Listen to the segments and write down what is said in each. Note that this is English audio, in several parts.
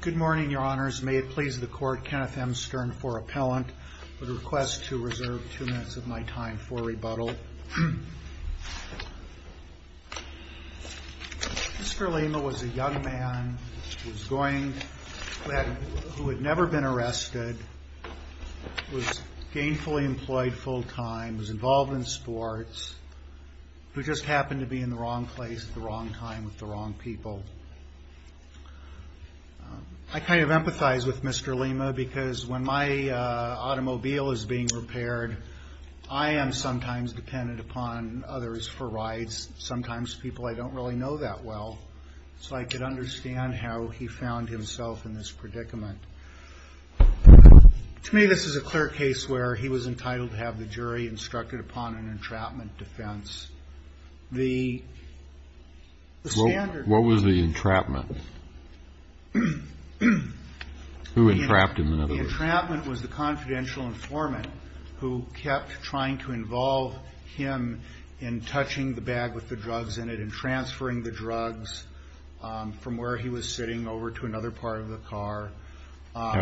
Good morning, Your Honors. May it please the Court, Kenneth M. Stern IV, Appellant, with a request to reserve two minutes of my time for rebuttal. Mr. Lima was a young man who had never been arrested, was gainfully employed full-time, was involved in sports, who just happened to be in the wrong place at the wrong time with the wrong people. I kind of empathize with Mr. Lima because when my automobile is being repaired, I am sometimes dependent upon others for rides, sometimes people I don't really know that well, so I could understand how he found himself in this predicament. To me, this is a clear case where he was entitled to have the jury instructed upon an entrapment defense. The standard- What was the entrapment? Who entrapped him, in other words? The entrapment was the confidential informant who kept trying to involve him in touching the bag with the drugs in it and transferring the drugs from where he was sitting over to another part of the car.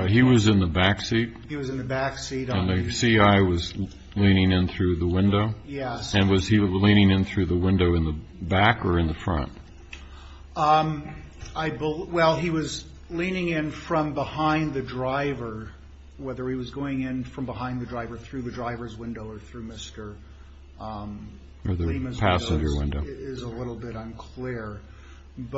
He was in the backseat? He was in the backseat. And the C.I. was leaning in through the window? Yes. And was he leaning in through the window in the back or in the front? Well, he was leaning in from behind the driver, whether he was going in from behind the driver through the driver's window or through Mr. Lima's window is a little bit unclear. And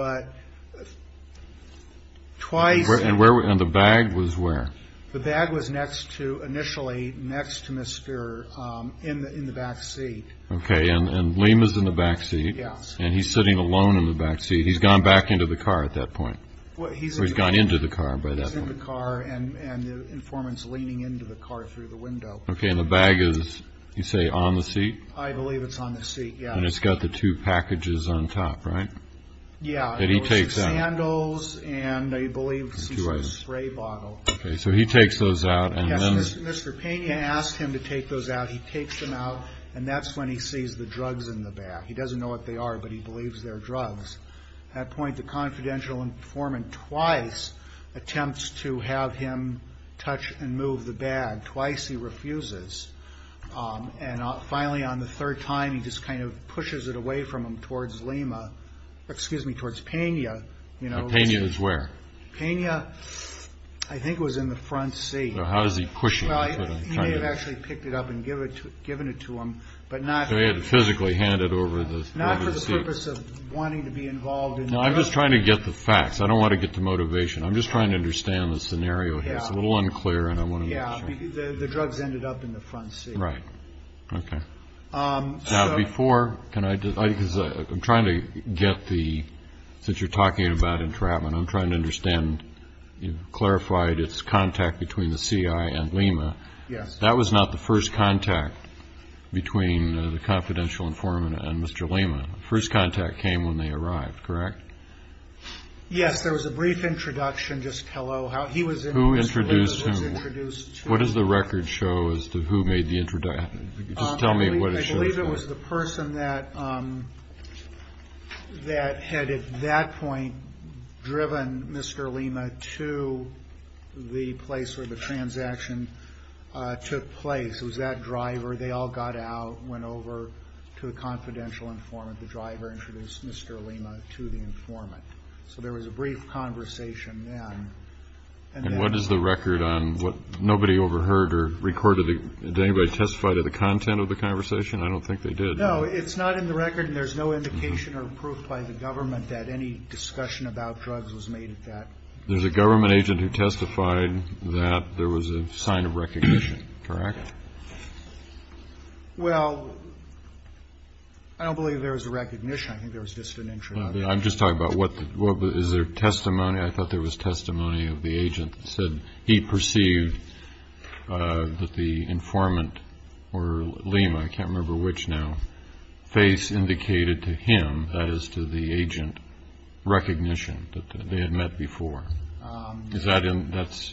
the bag was where? The bag was next to initially next to Mr. in the backseat. OK, and Lima's in the backseat and he's sitting alone in the backseat. He's gone back into the car at that point. Well, he's gone into the car by the car and the informant's leaning into the car through the window. OK. And the bag is, you say, on the seat? I believe it's on the seat. Yeah. And it's got the two packages on top, right? Yeah. And he takes out sandals and I believe spray bottle. OK, so he takes those out and Mr. Pena asked him to take those out. He takes them out and that's when he sees the drugs in the bag. He doesn't know what they are, but he believes they're drugs. At that point, the confidential informant twice attempts to have him touch and move the bag. Twice he refuses. And finally, on the third time, he just kind of pushes it away from him towards Lima. Excuse me, towards Pena. You know, Pena is where? Pena, I think, was in the front seat. How does he push it? Well, he may have actually picked it up and given it to him, but not. So he had to physically hand it over to the seat. Not for the purpose of wanting to be involved. No, I'm just trying to get the facts. I don't want to get the motivation. I'm just trying to understand the scenario here. It's a little unclear. And I want to. Yeah, the drugs ended up in the front seat. Right. OK. Now, before, can I, because I'm trying to get the, since you're talking about entrapment, I'm trying to understand, you've clarified its contact between the CI and Lima. Yes. That was not the first contact between the confidential informant and Mr. Lima. First contact came when they arrived, correct? Yes, there was a brief introduction, just hello. He was introduced. What does the record show as to who made the introduction? Just tell me what it shows. I believe it was the person that, that had at that point driven Mr. Lima to the place where the transaction took place. It was that driver. They all got out, went over to a confidential informant. The driver introduced Mr. Lima to the informant. So there was a brief conversation then. And what is the record on what nobody overheard or recorded? Did anybody testify to the content of the conversation? I don't think they did. No, it's not in the record. And there's no indication or proof by the government that any discussion about drugs was made at that. There's a government agent who testified that there was a sign of recognition, correct? Well, I don't believe there was a recognition. I think there was just an introduction. I'm just talking about what is their testimony. I thought there was testimony of the agent said he perceived that the informant or Lima, I can't remember which now, face indicated to him as to the agent recognition that they had met before. Is that in? That's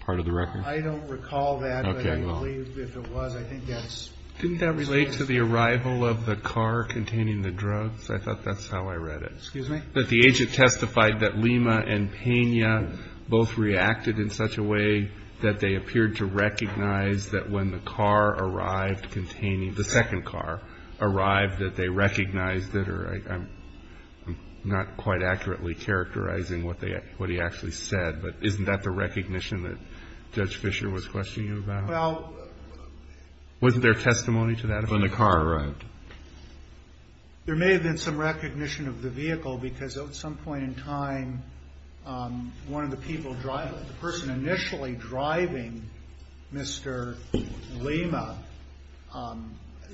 part of the record. I don't recall that. I believe if it was, I think that's. Didn't that relate to the arrival of the car containing the drugs? I thought that's how I read it. Excuse me? But the agent testified that Lima and Pena both reacted in such a way that they appeared to recognize that when the car arrived containing the second car arrived, that they recognized that or I'm not quite accurately characterizing what they what he actually said. But isn't that the recognition that Judge Fisher was questioning about? Well, wasn't there testimony to that when the car arrived? There may have been some recognition of the vehicle because at some point in time, one of the people driving the person initially driving Mr. Lima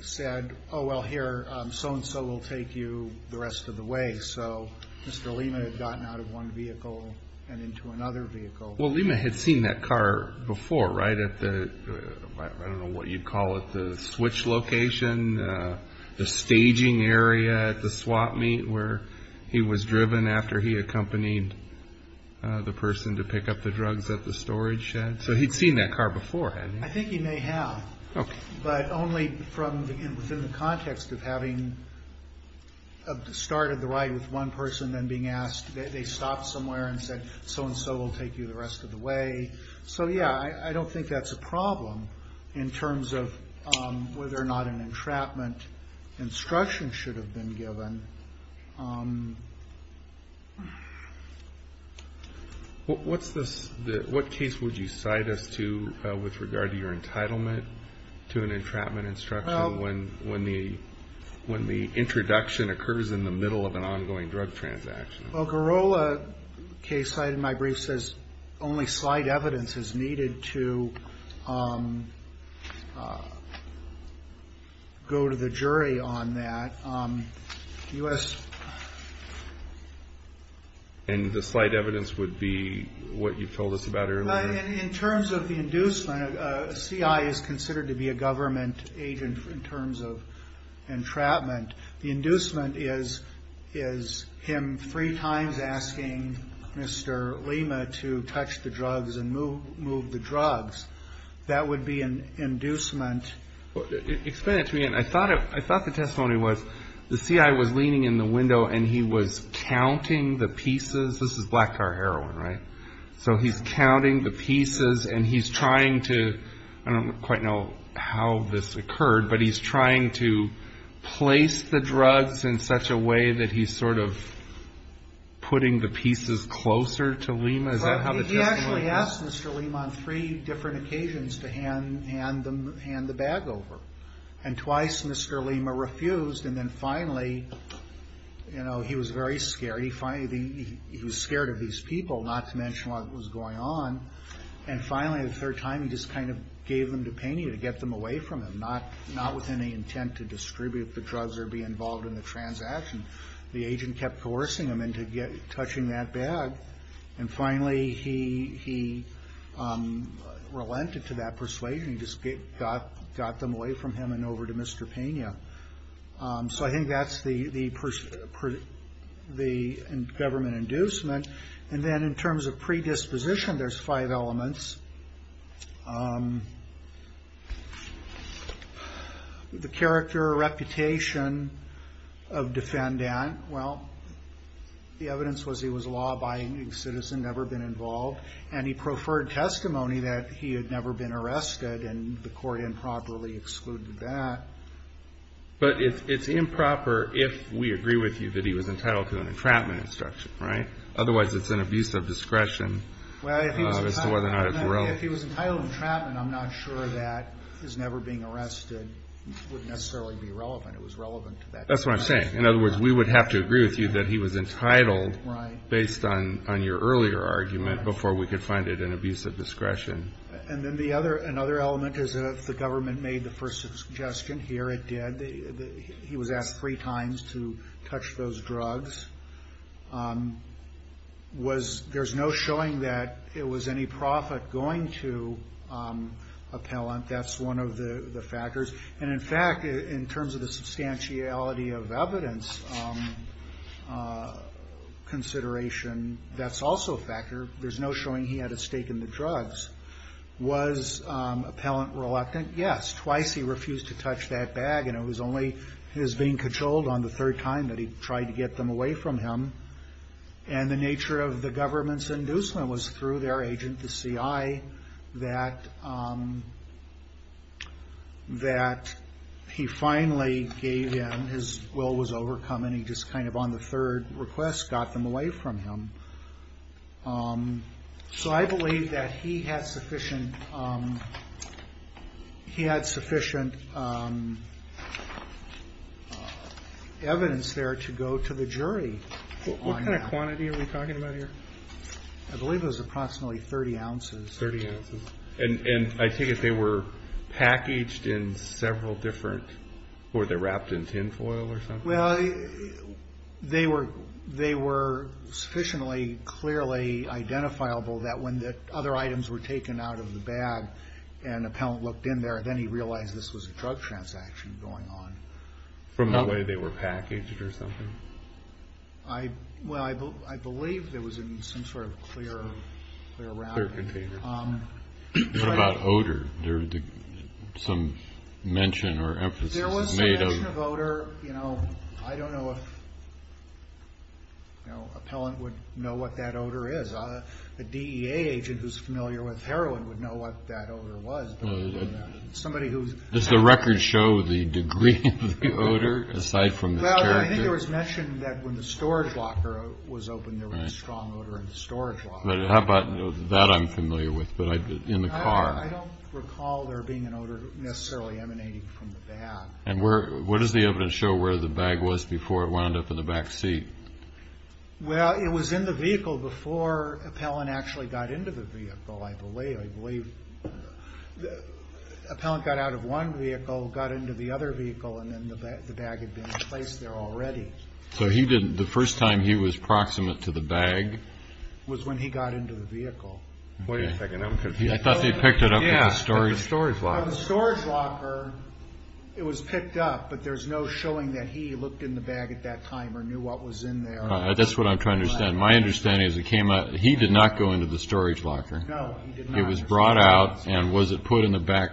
said, oh, well, here, so and so will take you the rest of the way. So Mr. Lima had gotten out of one vehicle and into another vehicle. Well, Lima had seen that car before, right? At the, I don't know what you'd call it, the switch location, the staging area at the swap meet where he was driven after he accompanied the person to pick up the drugs at the storage shed. So he'd seen that car before, hadn't he? I think he may have, but only from within the context of having started the ride with one person, then being asked, they stopped somewhere and said, so and so will take you the rest of the way. So, yeah, I don't think that's a problem in terms of whether or not an entrapment instruction should have been given. What's this? What case would you cite us to with regard to your entitlement to an entrapment instruction when the introduction occurs in the middle of an ongoing drug transaction? Well, Girola case cited in my brief says only slight evidence is needed to go to the jury on that. And the slight evidence would be what you told us about earlier? In terms of the inducement, a CI is considered to be a government agent in terms of entrapment. The inducement is is him three times asking Mr. Lima to touch the drugs and move the drugs. That would be an inducement. Explain it to me. And I thought I thought the testimony was the CI was leaning in the window and he was counting the pieces. This is black car heroin, right? So he's counting the pieces and he's trying to, I don't quite know how this occurred, but he's trying to place the drugs in such a way that he's sort of putting the pieces closer to Lima. Is that how the testimony is? He actually asked Mr. Lima on three different occasions to hand the bag over. And twice, Mr. Lima refused. And then finally, you know, he was very scared. He finally, he was scared of these people, not to mention what was going on. And finally, the third time, he just kind of gave them to Peña to get them away from him, not with any intent to distribute the drugs or be involved in the transaction. The agent kept coercing him into touching that bag. And finally, he relented to that persuasion and just got them away from him and over to Mr. Peña. So I think that's the government inducement. And then in terms of predisposition, there's five elements. The character or reputation of defendant. Well, the evidence was he was a law-abiding citizen, never been involved, and he preferred testimony that he had never been arrested and the court improperly excluded that. But it's improper if we agree with you that he was entitled to an entrapment instruction, right? Otherwise, it's an abuse of discretion as to whether or not it's wrong. If he was entitled to entrapment, I'm not sure that his never being arrested would necessarily be relevant. It was relevant to that. That's what I'm saying. In other words, we would have to agree with you that he was entitled based on your earlier argument before we could find it an abuse of discretion. And then another element is that if the government made the first suggestion, here it did, he was asked three times to touch those drugs. There's no showing that it was any profit going to appellant. That's one of the factors. And in fact, in terms of the substantiality of evidence consideration, that's also a factor. There's no showing he had a stake in the drugs. Was appellant reluctant? Yes. Twice he refused to touch that bag. And it was only his being controlled on the third time that he tried to get them away from him. And the nature of the government's inducement was through their agent, the CI, that he finally gave in. His will was overcome. And he just kind of, on the third request, got them away from him. So I believe that he had sufficient evidence there to go to the jury on that. What kind of quantity are we talking about here? I believe it was approximately 30 ounces. 30 ounces. And I take it they were packaged in several different, or they're wrapped in tinfoil or something? Well, they were sufficiently clearly identifiable that when the other items were taken out of the bag and appellant looked in there, then he realized this was a drug transaction going on. From the way they were packaged or something? I, well, I believe there was some sort of clear wrapping. Clear container. What about odor? There was some mention or emphasis made on... You know, I don't know if, you know, appellant would know what that odor is. A DEA agent who's familiar with heroin would know what that odor was. Does the record show the degree of the odor, aside from the character? Well, I think it was mentioned that when the storage locker was opened, there was a strong odor in the storage locker. But how about that I'm familiar with, but in the car? I don't recall there being an odor necessarily emanating from the bag. And where, what does the evidence show where the bag was before it wound up in the back seat? Well, it was in the vehicle before appellant actually got into the vehicle. I believe, I believe the appellant got out of one vehicle, got into the other vehicle, and then the bag had been placed there already. So he didn't, the first time he was proximate to the bag? Was when he got into the vehicle. Wait a second, I'm confused. I thought they picked it up from the storage locker. From the storage locker, it was picked up, but there's no showing that he looked in the bag at that time or knew what was in there. That's what I'm trying to understand. My understanding is it came out, he did not go into the storage locker. No, he did not. It was brought out and was it put in the back,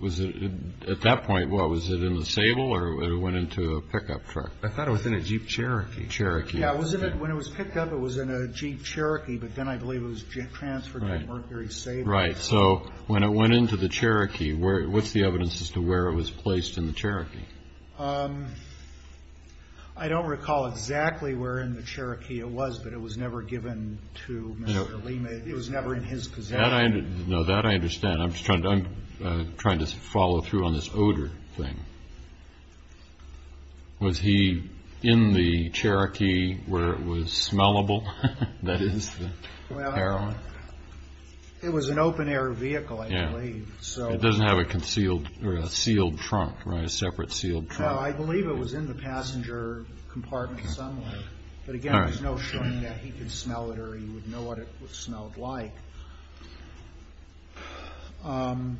was it at that point, what was it in the sable or it went into a pickup truck? I thought it was in a Jeep Cherokee. Cherokee. Yeah, when it was picked up, it was in a Jeep Cherokee, but then I believe it was transferred to a Mercury Sable. Right. So when it went into the Cherokee, what's the evidence as to where it was placed in the Cherokee? I don't recall exactly where in the Cherokee it was, but it was never given to Mr. Lima. It was never in his possession. No, that I understand. I'm just trying to follow through on this odor thing. Was he in the Cherokee where it was smellable? That is the heroin? No, it was an open air vehicle, I believe, so. It doesn't have a concealed or a sealed trunk, right? A separate sealed trunk. No, I believe it was in the passenger compartment somewhere, but again, there's no showing that he could smell it or he would know what it smelled like. And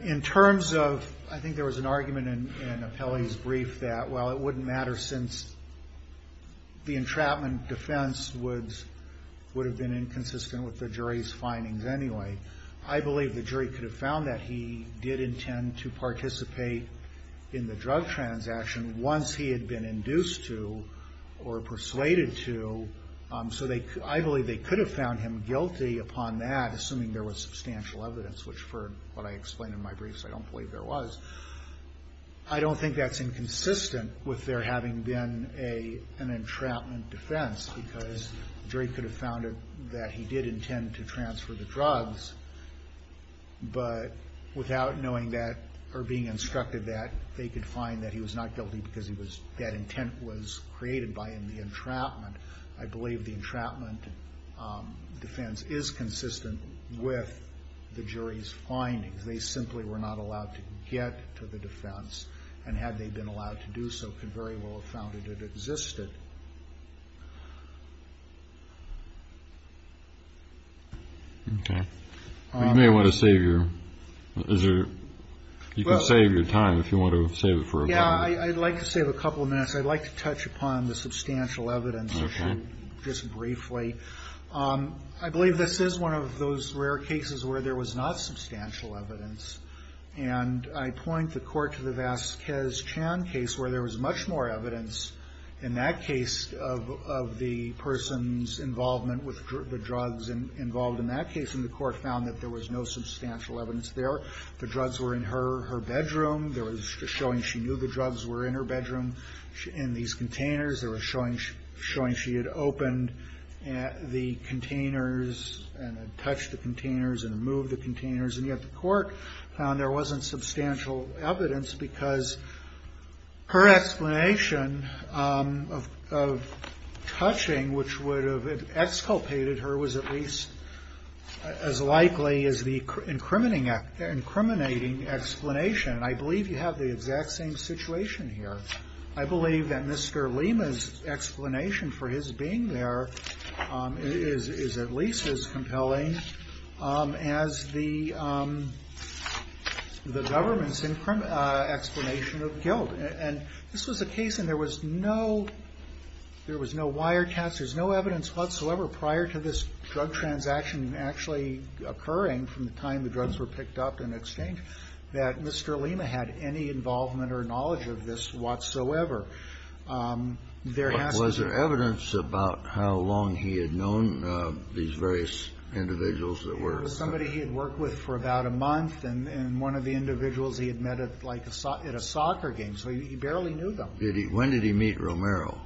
in terms of, I think there was an argument in Apelli's brief that, well, it wouldn't matter since the entrapment defense would have been inconsistent with the jury's findings anyway. I believe the jury could have found that he did intend to participate in the drug transaction once he had been induced to or persuaded to. So I believe they could have found him guilty upon that, assuming there was substantial evidence, which for what I explained in my briefs, I don't believe there was. I don't think that's inconsistent with there having been an entrapment defense because the jury could have found that he did intend to transfer the drugs, but without knowing that or being instructed that they could find that he was not guilty because that intent was created by the entrapment. I believe the entrapment defense is consistent with the jury's findings. They simply were not allowed to get to the defense, and had they been allowed to do so, could very well have found that it existed. You may want to save your, is there, you can save your time if you want to save it for a moment. Yeah, I'd like to save a couple of minutes. I'd like to touch upon the substantial evidence issue just briefly. I believe this is one of those rare cases where there was not substantial evidence, and I point the court to the Vasquez-Chan case where there was much more evidence in that case of the person's involvement with the drugs involved in that case, and the court found that there was no substantial evidence there. The drugs were in her bedroom. There was just showing she knew the drugs were in her bedroom. In these containers, there was showing she had opened the containers and had touched the containers and moved the containers, and yet the court found there wasn't substantial evidence because her explanation of touching, which would have exculpated her, was at least as likely as the incriminating explanation, and I believe you have the exact same situation here. I believe that Mr. Lima's explanation for his being there is at least as compelling as the government's explanation of guilt, and this was a case and there was no, there was no wiretaps, there was no evidence whatsoever prior to this drug transaction actually occurring from the time the drugs were picked up and exchanged that Mr. Lima had any involvement or knowledge of this whatsoever. There has to be... Was there evidence about how long he had known these various individuals that were... There was somebody he had worked with for about a month, and one of the individuals he had met at like a, at a soccer game, so he barely knew them. Did he, when did he meet Romero?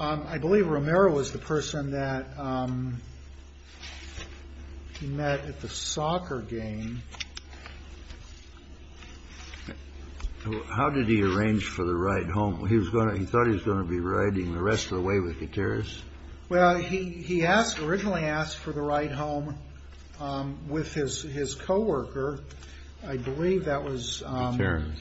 I believe Romero was the person that he met at the soccer game. How did he arrange for the ride home? He was going to, he thought he was going to be riding the rest of the way with Gutierrez? Well, he, he asked, originally asked for the ride home with his, his co-worker, I believe that was... Gutierrez.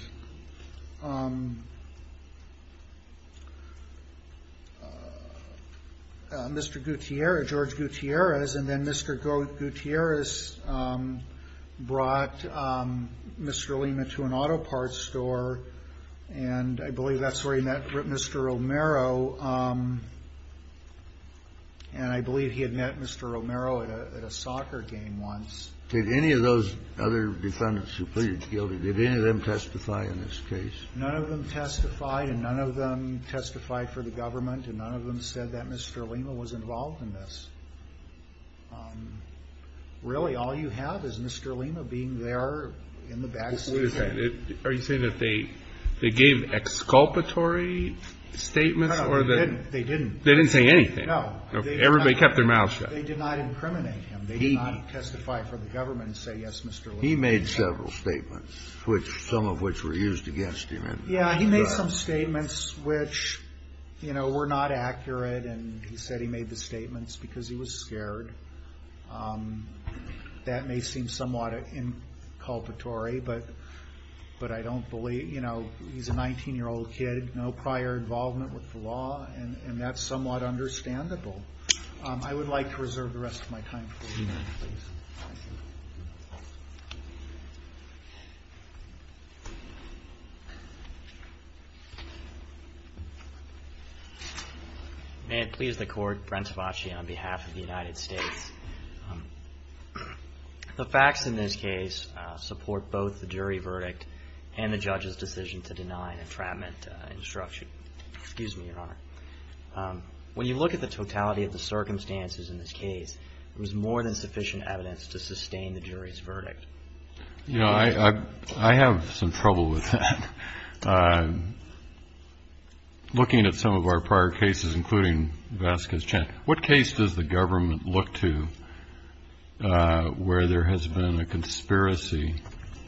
Mr. Gutierrez, George Gutierrez, and then Mr. Gutierrez brought Mr. Lima to an auto parts store, and I believe that's where he met Mr. Romero, and I believe he had met Mr. Romero at a, at a soccer game once. Did any of those other defendants who pleaded guilty, did any of them testify in this case? None of them testified, and none of them testified for the government, and none of them said that Mr. Lima was involved in this. Really, all you have is Mr. Lima being there in the back seat of the... Wait a second, are you saying that they, they gave exculpatory statements? No, no, they didn't. They didn't say anything? No. Everybody kept their mouth shut. They did not incriminate him. They did not testify for the government and say, yes, Mr. Lima... He made several statements, which, some of which were used against him in... Yeah, he made some statements which, you know, were not accurate, and he said he made the statements because he was scared. That may seem somewhat inculpatory, but, but I don't believe, you know, he's a 19-year-old kid, no prior involvement with the law, and, and that's somewhat understandable. I would like to reserve the rest of my time for the hearing, please. Thank you. May it please the Court, Brent Tavace on behalf of the United States. The facts in this case support both the jury verdict and the judge's decision to deny an entrapment instruction. Excuse me, Your Honor. When you look at the totality of the circumstances in this case, there was more than sufficient evidence to sustain the jury's verdict. You know, I, I, I have some trouble with that. Looking at some of our prior cases, including Vasquez Chan, what case does the government look to where there has been a conspiracy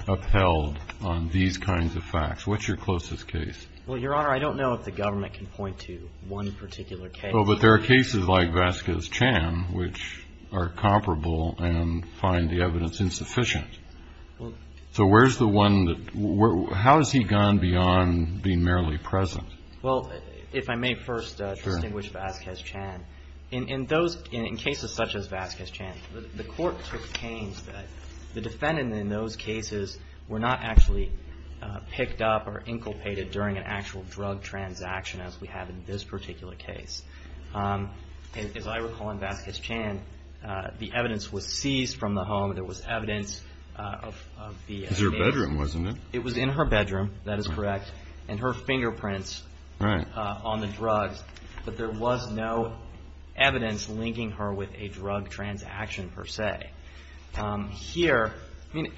upheld on these kinds of facts? What's your closest case? Well, Your Honor, I don't know if the government can point to one particular case. Oh, but there are cases like Vasquez Chan, which are comparable and find the evidence insufficient. Well. So where's the one that, how has he gone beyond being merely present? Well, if I may first distinguish Vasquez Chan. Sure. In those, in cases such as Vasquez Chan, the court took pains that the defendant in those cases were not actually picked up or inculpated during an actual drug transaction as we have in this particular case. As I recall in Vasquez Chan, the evidence was seized from the home. There was evidence of the. It was in her bedroom, wasn't it? It was in her bedroom. That is correct. And her fingerprints. Right. So there was evidence on the drugs, but there was no evidence linking her with a drug transaction per se. Here, I mean,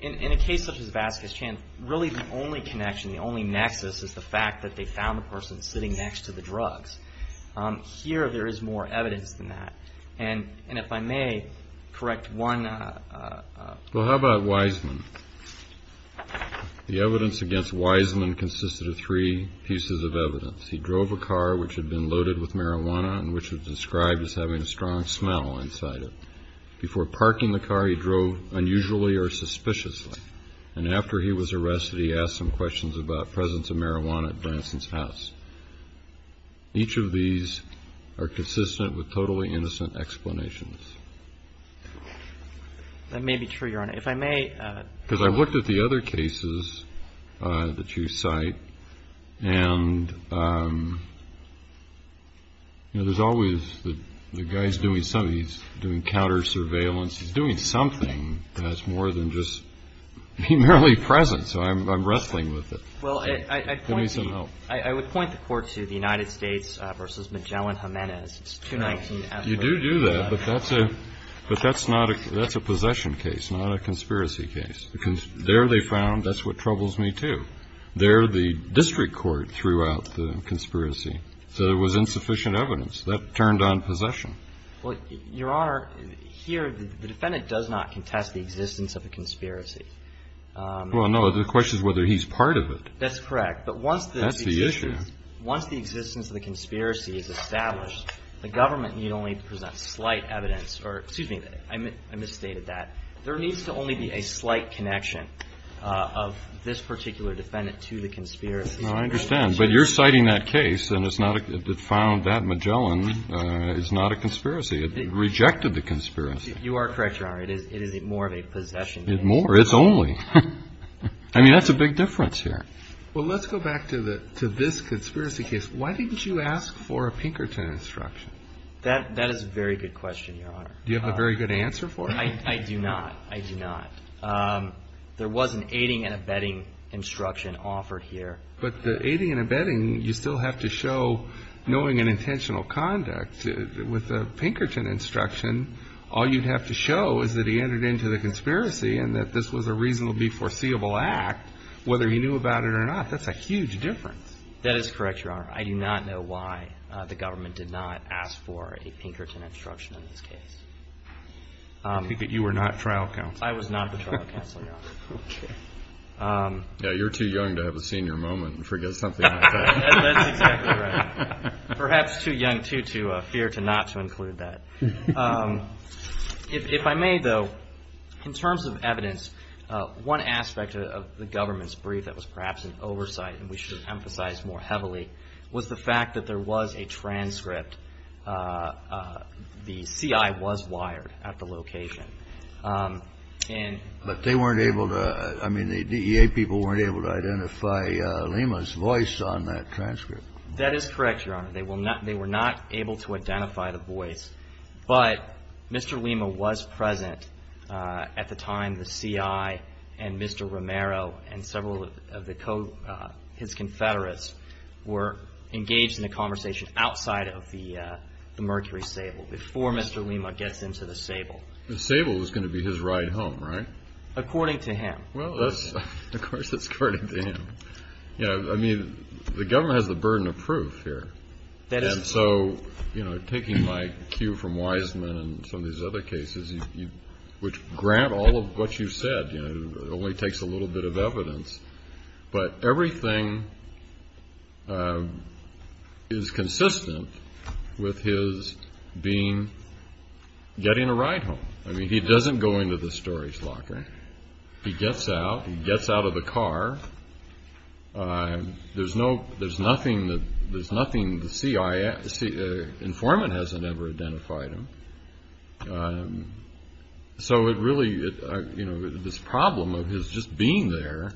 in a case such as Vasquez Chan, really the only connection, the only nexus is the fact that they found the person sitting next to the drugs. Here there is more evidence than that. And if I may correct one. Well, how about Wiseman? The evidence against Wiseman consisted of three pieces of evidence. He drove a car which had been loaded with marijuana and which was described as having a strong smell inside it. Before parking the car, he drove unusually or suspiciously. And after he was arrested, he asked some questions about presence of marijuana at Branson's house. Each of these are consistent with totally innocent explanations. That may be true, Your Honor. If I may. Because I've looked at the other cases that you cite, and there's always the guy's doing something. He's doing counter surveillance. He's doing something that's more than just being merely present. So I'm wrestling with it. Well, I would point the court to the United States versus Magellan-Jimenez. It's 219 F. You do do that, but that's a possession case, not a conspiracy case. Because there they found, that's what troubles me, too. There the district court threw out the conspiracy. So there was insufficient evidence. That turned on possession. Well, Your Honor, here the defendant does not contest the existence of a conspiracy. Well, no. The question is whether he's part of it. That's correct. But once the existence of the conspiracy is established, the government need only present slight evidence. Excuse me. I misstated that. There needs to only be a slight connection of this particular defendant to the conspiracy. No, I understand. But you're citing that case, and it found that Magellan is not a conspiracy. It rejected the conspiracy. You are correct, Your Honor. It is more of a possession case. It's more. It's only. I mean, that's a big difference here. Well, let's go back to this conspiracy case. Why didn't you ask for a Pinkerton instruction? That is a very good question, Your Honor. Do you have a very good answer for it? I do not. I do not. There was an aiding and abetting instruction offered here. But the aiding and abetting, you still have to show, knowing an intentional conduct with a Pinkerton instruction, all you'd have to show is that he entered into the conspiracy and that this was a reasonably foreseeable act, whether he knew about it or not. That's a huge difference. That is correct, Your Honor. I do not know why the government did not ask for a Pinkerton instruction in this case. I think that you were not trial counsel. I was not the trial counsel, Your Honor. Okay. Yeah, you're too young to have a senior moment and forget something like that. That's exactly right. Perhaps too young, too, to fear to not to include that. If I may, though, in terms of evidence, one aspect of the government's brief that was perhaps an oversight and we should emphasize more heavily was the fact that there was a transcript. The CI was wired at the location. But they weren't able to, I mean, the DEA people weren't able to identify Lima's voice on that transcript. That is correct, Your Honor. They were not able to identify the voice. But Mr. Lima was present at the time and the CI and Mr. Romero and several of his confederates were engaged in a conversation outside of the Mercury Sable before Mr. Lima gets into the Sable. The Sable is going to be his ride home, right? According to him. Well, of course it's according to him. I mean, the government has the burden of proof here. And so, you know, taking my cue from Wiseman and some of these other cases, which grant all of what you said, you know, it only takes a little bit of evidence. But everything is consistent with his being, getting a ride home. I mean, he doesn't go into the storage locker. He gets out, he gets out of the car. There's no, there's nothing that, there's nothing the CI, the informant hasn't ever identified him. So it really, you know, this problem of his just being there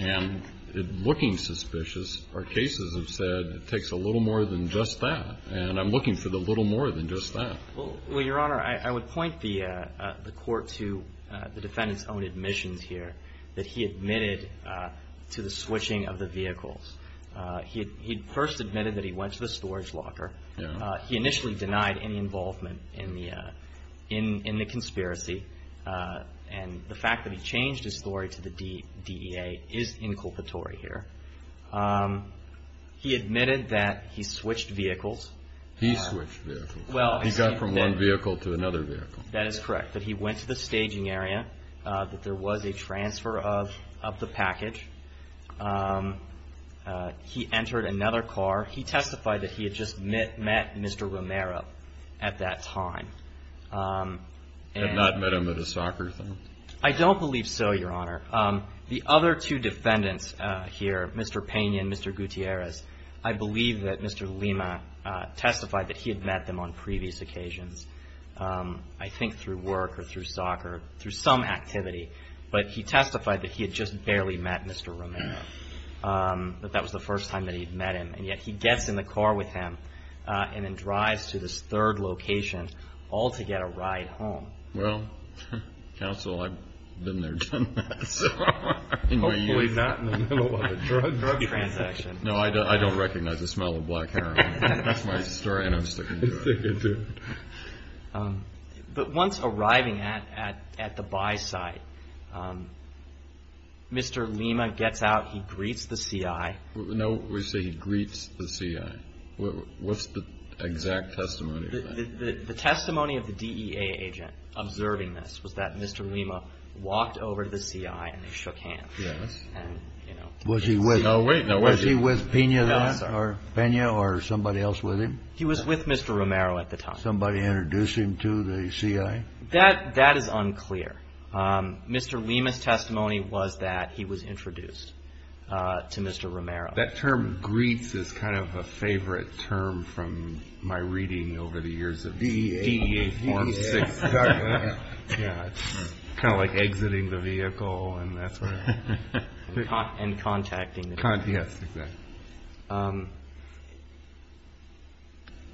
and it looking suspicious, our cases have said it takes a little more than just that. And I'm looking for the little more than just that. Well, Your Honor, I would point the court to the defendant's own admissions here that he admitted to the switching of the vehicles. He first admitted that he went to the storage locker. He initially denied any involvement in the conspiracy. And the fact that he changed his story to the DEA is inculpatory here. He admitted that he switched vehicles. He switched vehicles. He got from one vehicle to another vehicle. That is correct, that he went to the staging area, that there was a transfer of the package. He entered another car. He testified that he had just met Mr. Romero at that time. Had not met him at a soccer thing? I don't believe so, Your Honor. The other two defendants here, Mr. Payne and Mr. Gutierrez, I believe that Mr. Lima testified that he had met them on previous occasions. I think through work or through soccer, through some activity. But he testified that he had just barely met Mr. Romero. That that was the first time that he'd met him. And yet he gets in the car with him and then drives to this third location all to get a ride home. Well, counsel, I've been there done that. Hopefully not in the middle of a drug transaction. No, I don't recognize the smell of black heroin. That's my story and I'm sticking to it. But once arriving at the buy site, Mr. Lima gets out. He greets the CI. No, we say he greets the CI. What's the exact testimony? The testimony of the DEA agent observing this was that Mr. Lima walked over to the CI and shook hands. Was he with Pena then? Or somebody else with him? He was with Mr. Romero at the time. Somebody introduced him to the CI? That is unclear. Mr. Lima's testimony was that That term greets is kind of a favorite term from my reading over the years of DEA. DEA. Kind of like exiting the vehicle. And contacting. Yes, exactly.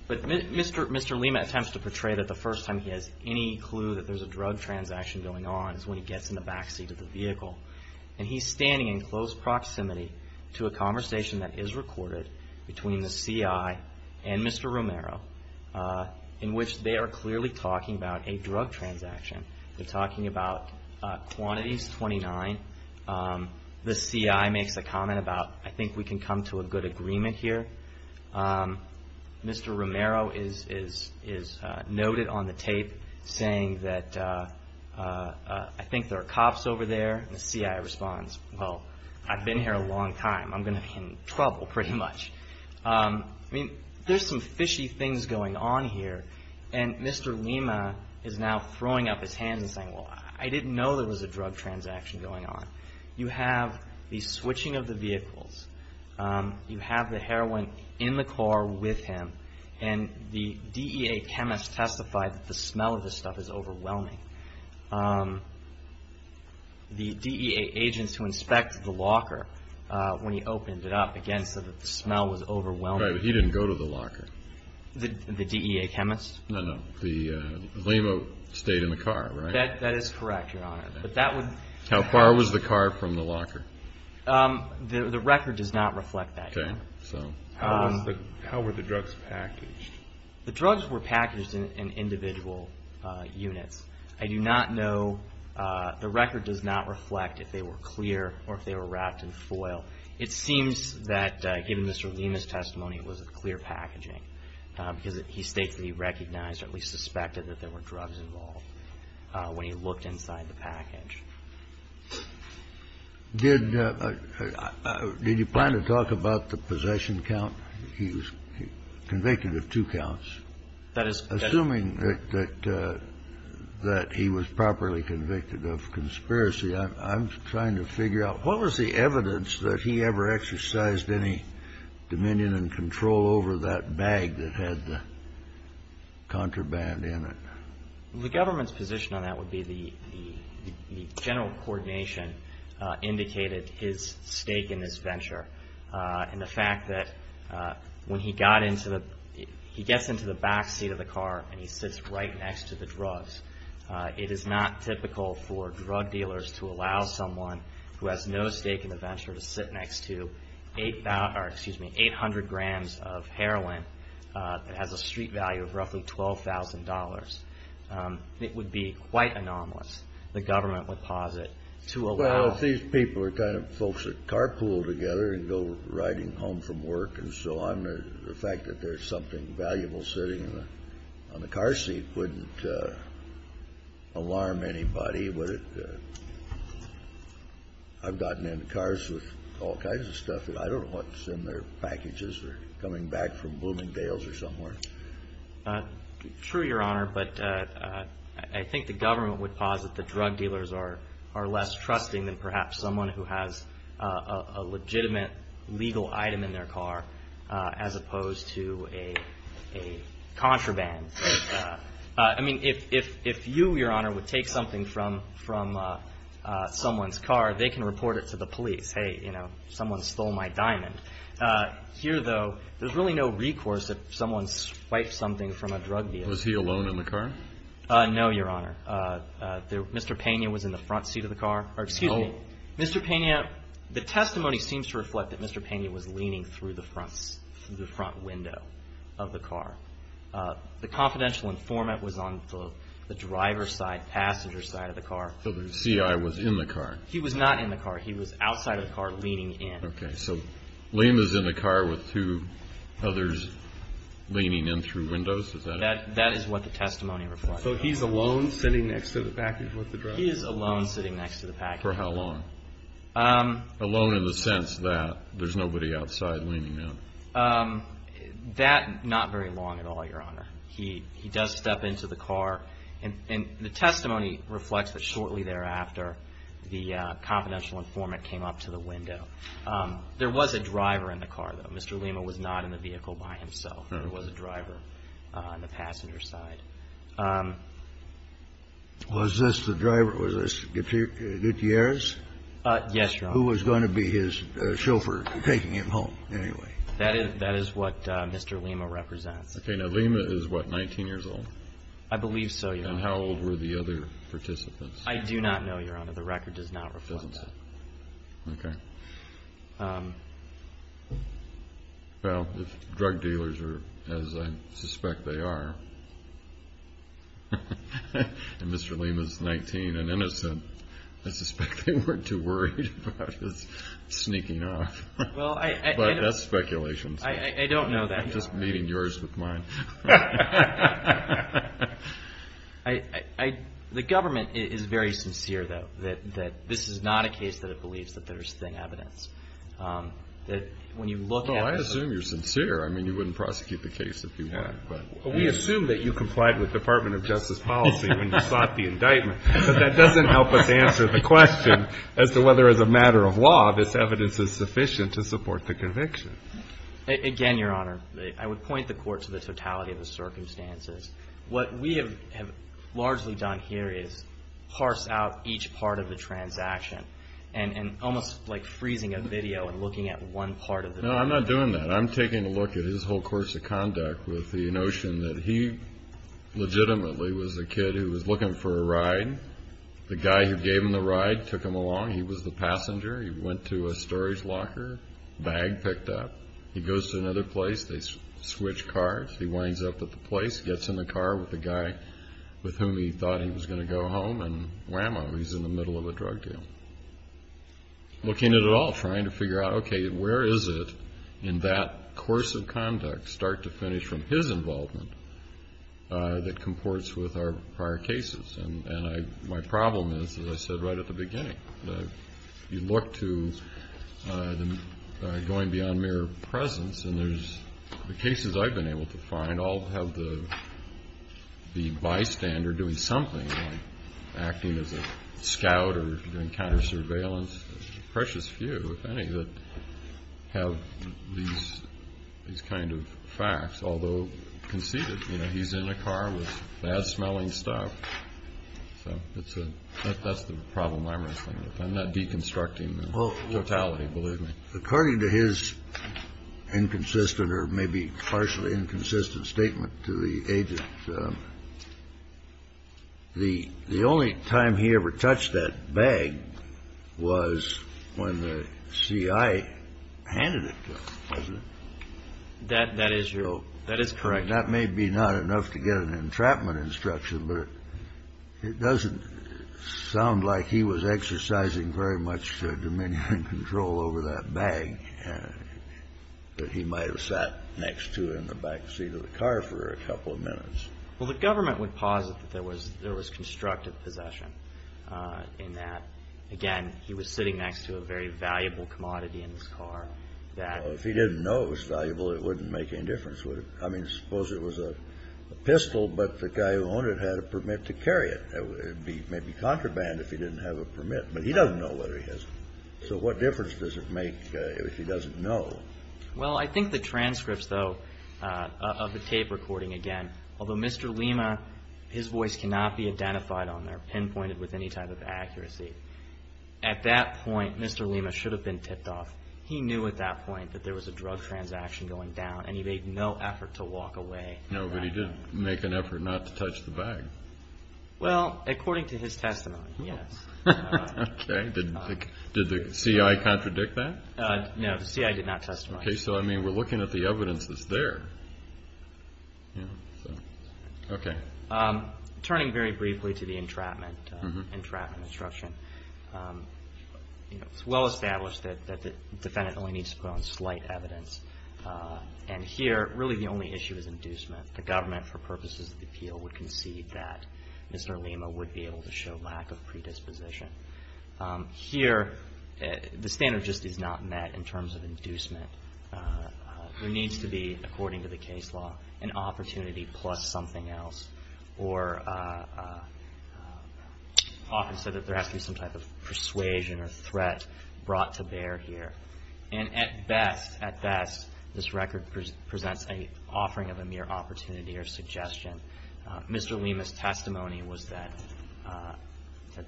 But Mr. Lima attempts to portray that the first time he has any clue that there's a drug transaction going on is when he gets in the backseat of the vehicle. And he's standing in close proximity to a conversation that is recorded between the CI and Mr. Romero in which they are clearly talking about a drug transaction. They're talking about quantities 29. The CI makes a comment about I think we can come to a good agreement here. Mr. Romero is noted on the tape saying that I think there are cops over there. The CI responds, well, I've been here a long time. I'm going to be in trouble pretty much. There's some fishy things going on here. And Mr. Lima is now throwing up his hands and saying, well, I didn't know there was a drug transaction going on. You have the switching of the vehicles. You have the heroin in the car with him. And the DEA chemist testified that the smell of this stuff is overwhelming. The DEA agents who inspect the locker when he opened it up again said that the smell was overwhelming. He didn't go to the locker? The DEA chemist? No, no. Lima stayed in the car, right? How far was the car from the locker? The record does not reflect that. How were the drugs packaged? The drugs were packaged in individual units. I do not know. The record does not reflect if they were clear or if they were wrapped in foil. It seems that given Mr. Lima's testimony it was clear packaging because he states that he recognized or at least suspected that there were drugs involved when he looked inside the package. Did you plan to talk about the possession count? He was convicted of two counts. Assuming that he was properly convicted of conspiracy I'm trying to figure out what was the evidence that he ever exercised any dominion and control over that bag that had the contraband in it? The government's position on that would be the general coordination indicated his stake in this venture and the fact that he gets into the back seat of the car and he sits right next to the drugs. It is not typical for drug dealers to allow someone who has no stake in the venture to sit next to 800 grams of heroin that has a street value of roughly $12,000. It would be quite anomalous the government would pause it to allow Well if these people are kind of folks that carpool together and go riding home from work and so on the fact that there's something valuable sitting on the car seat wouldn't alarm anybody I've gotten into cars with all kinds of stuff that I don't know what's in their packages or coming back from Bloomingdale's or somewhere True Your Honor I think the government would pause it that drug dealers are less trusting than perhaps someone who has a legitimate legal item in their car as opposed to a contraband If you Your Honor would take something from someone's car they can report it to the police Hey someone stole my diamond Here though there's really no recourse if someone swiped something from a drug dealer No Your Honor Mr. Pena was in the front seat of the car The testimony seems to reflect that Mr. Pena was leaning through the front window of the car The confidential informant was on the driver's side, passenger's side of the car So the C.I. was in the car? He was not in the car, he was outside of the car leaning in So Liam is in the car with two others leaning in through windows? That is what the testimony reflects So he's alone sitting next to the package? For how long? Alone in the sense that there's nobody outside leaning in That, not very long at all Your Honor He does step into the car The testimony reflects that shortly thereafter the confidential informant came up to the window There was a driver in the car though Mr. Lima was not in the vehicle by himself There was a driver on the passenger's side Was this Gutierrez? Yes Your Honor Who was going to be his chauffeur taking him home anyway? That is what Mr. Lima represents Okay, now Lima is what, 19 years old? I believe so Your Honor And how old were the other participants? I do not know Your Honor, the record does not reflect that Okay Well, if drug dealers are as I suspect they are and Mr. Lima is 19 and innocent I suspect they weren't too worried about his sneaking off But that's speculation I don't know that Your Honor I'm just meeting yours with mine The government is very sincere though that this is not a case that it believes that there is thin evidence I assume you're sincere I mean you wouldn't prosecute the case if you want We assume that you complied with Department of Justice policy when you sought the indictment but that doesn't help us answer the question as to whether as a matter of law this evidence is sufficient to support the conviction Again Your Honor, I would point the Court to the totality of the circumstances What we have largely done here is parse out each part of the transaction and almost like freezing a video and looking at one part of the video No, I'm not doing that I'm taking a look at his whole course of conduct with the notion that he legitimately was a kid who was looking for a ride The guy who gave him the ride took him along He was the passenger He went to a storage locker Bag picked up He goes to another place They switch cars He winds up at the place Gets in the car with the guy with whom he thought he was going to go home And whammo, he's in the middle of a drug deal Looking at it all, trying to figure out where is it in that course of conduct start to finish from his involvement that comports with our prior cases My problem is, as I said right at the beginning You look to going beyond mere presence The cases I've been able to find all have the bystander doing something acting as a scout or doing counter surveillance precious few, if any that have these kind of facts although conceited He's in a car with bad smelling stuff That's the problem I'm wrestling with I'm not deconstructing the totality, believe me According to his inconsistent or maybe partially inconsistent statement to the agent The only time he ever touched that bag was when the CI handed it to him That is correct That may be not enough to get an entrapment instruction but it doesn't sound like he was exercising very much dominion and control over that bag that he might have sat next to in the back seat of the car for a couple of minutes The government would posit that there was constructive possession Again, he was sitting next to a very valuable commodity If he didn't know it was valuable it wouldn't make any difference Suppose it was a pistol but the guy who owned it had a permit to carry it It would be contraband if he didn't have a permit So what difference does it make if he doesn't know Well, I think the transcripts of the tape recording Although Mr. Lima's voice cannot be identified pinpointed with any type of accuracy At that point, Mr. Lima should have been tipped off He knew at that point that there was a drug transaction going down and he made no effort to walk away No, but he did make an effort not to touch the bag Well, according to his testimony, yes Did the CI contradict that? No, the CI did not testify So we're looking at the evidence that's there Okay Turning very briefly to the entrapment instruction It's well established that the defendant only needs to put on slight evidence and here, really the only issue is inducement The government, for purposes of the appeal, would concede that Mr. Lima would be able to show lack of predisposition Here, the standard just is not met in terms of inducement There needs to be, according to the case law an opportunity plus something else or often said that there has to be some type of persuasion or threat brought to bear here At best, this record presents an offering of a mere opportunity or suggestion Mr. Lima's testimony was that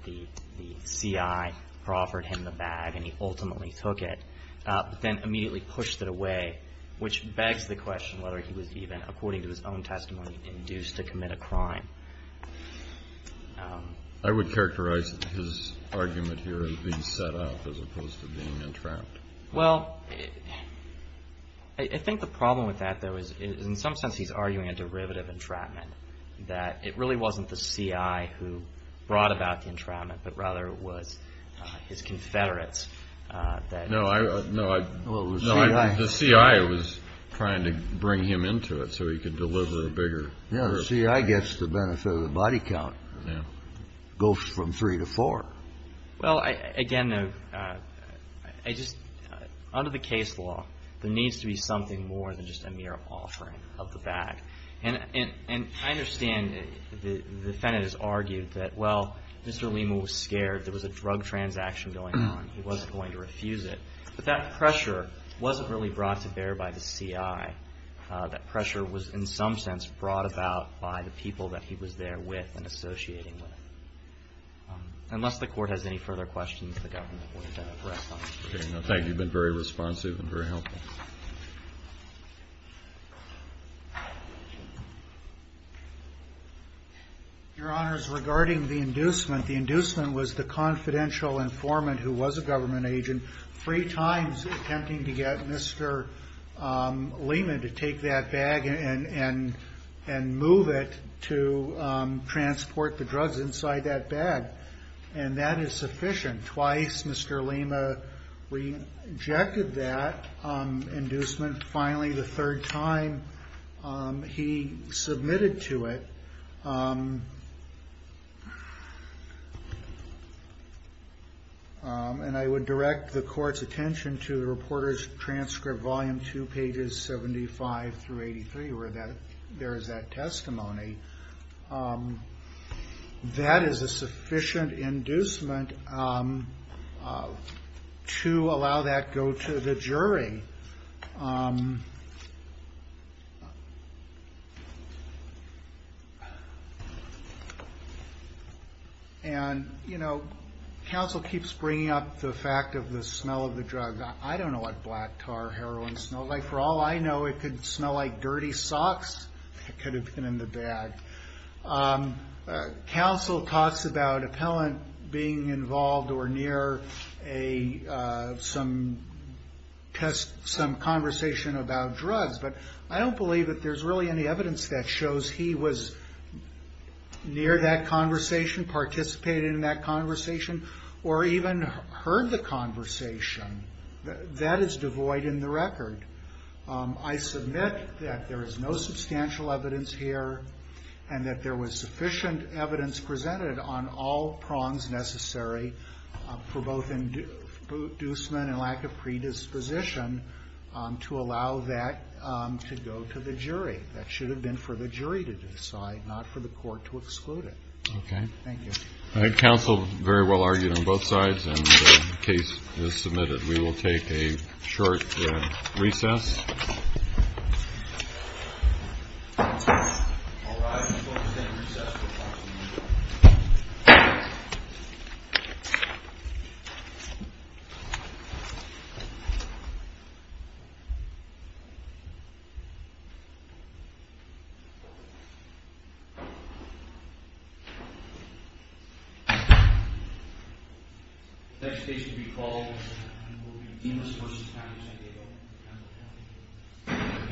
the CI offered him the bag and he ultimately took it but then immediately pushed it away which begs the question whether he was even, according to his own testimony induced to commit a crime I would characterize his argument here as being set up as opposed to being entrapped Well, I think the problem with that is in some sense he's arguing a derivative entrapment that it really wasn't the CI who brought about the entrapment but rather it was his confederates The CI was trying to bring him into it so he could deliver a bigger... Yeah, the CI gets the benefit of the body count It goes from 3 to 4 Well, again under the case law there needs to be something more than just a mere offering of the bag And I understand the defendant has argued that, well, Mr. Lima was scared there was a drug transaction going on he wasn't going to refuse it but that pressure wasn't really brought to bear by the CI that pressure was in some sense brought about by the people that he was there with and associating with Unless the court has any further questions Okay, thank you Your Honor, regarding the inducement the inducement was the confidential informant who was a government agent three times attempting to get Mr. Lima to take that bag and move it to transport the drugs inside that bag and that is sufficient twice Mr. Lima rejected that inducement finally the third time he submitted to it and I would direct the court's attention to the reporter's transcript volume 2 pages 75 through 83 where there is that testimony that is a sufficient inducement to allow that to go to the jury and, you know counsel keeps bringing up the fact of the smell of the drug I don't know what black tar heroin smelled like for all I know it could smell like dirty socks that could have been in the bag counsel talks about appellant being involved or near some conversation about drugs but I don't believe there is any evidence that shows he was near that conversation participated in that conversation or even heard the conversation that is devoid in the record I submit that there is no substantial evidence here and that there was sufficient evidence presented on all prongs necessary for both inducement and lack of predisposition to allow that to go to the jury that should have been for the jury to decide not for the court to exclude it counsel very well argued on both sides and the case is submitted we will take a short recess next case to be called will be Dimas v. Panagiotopoulos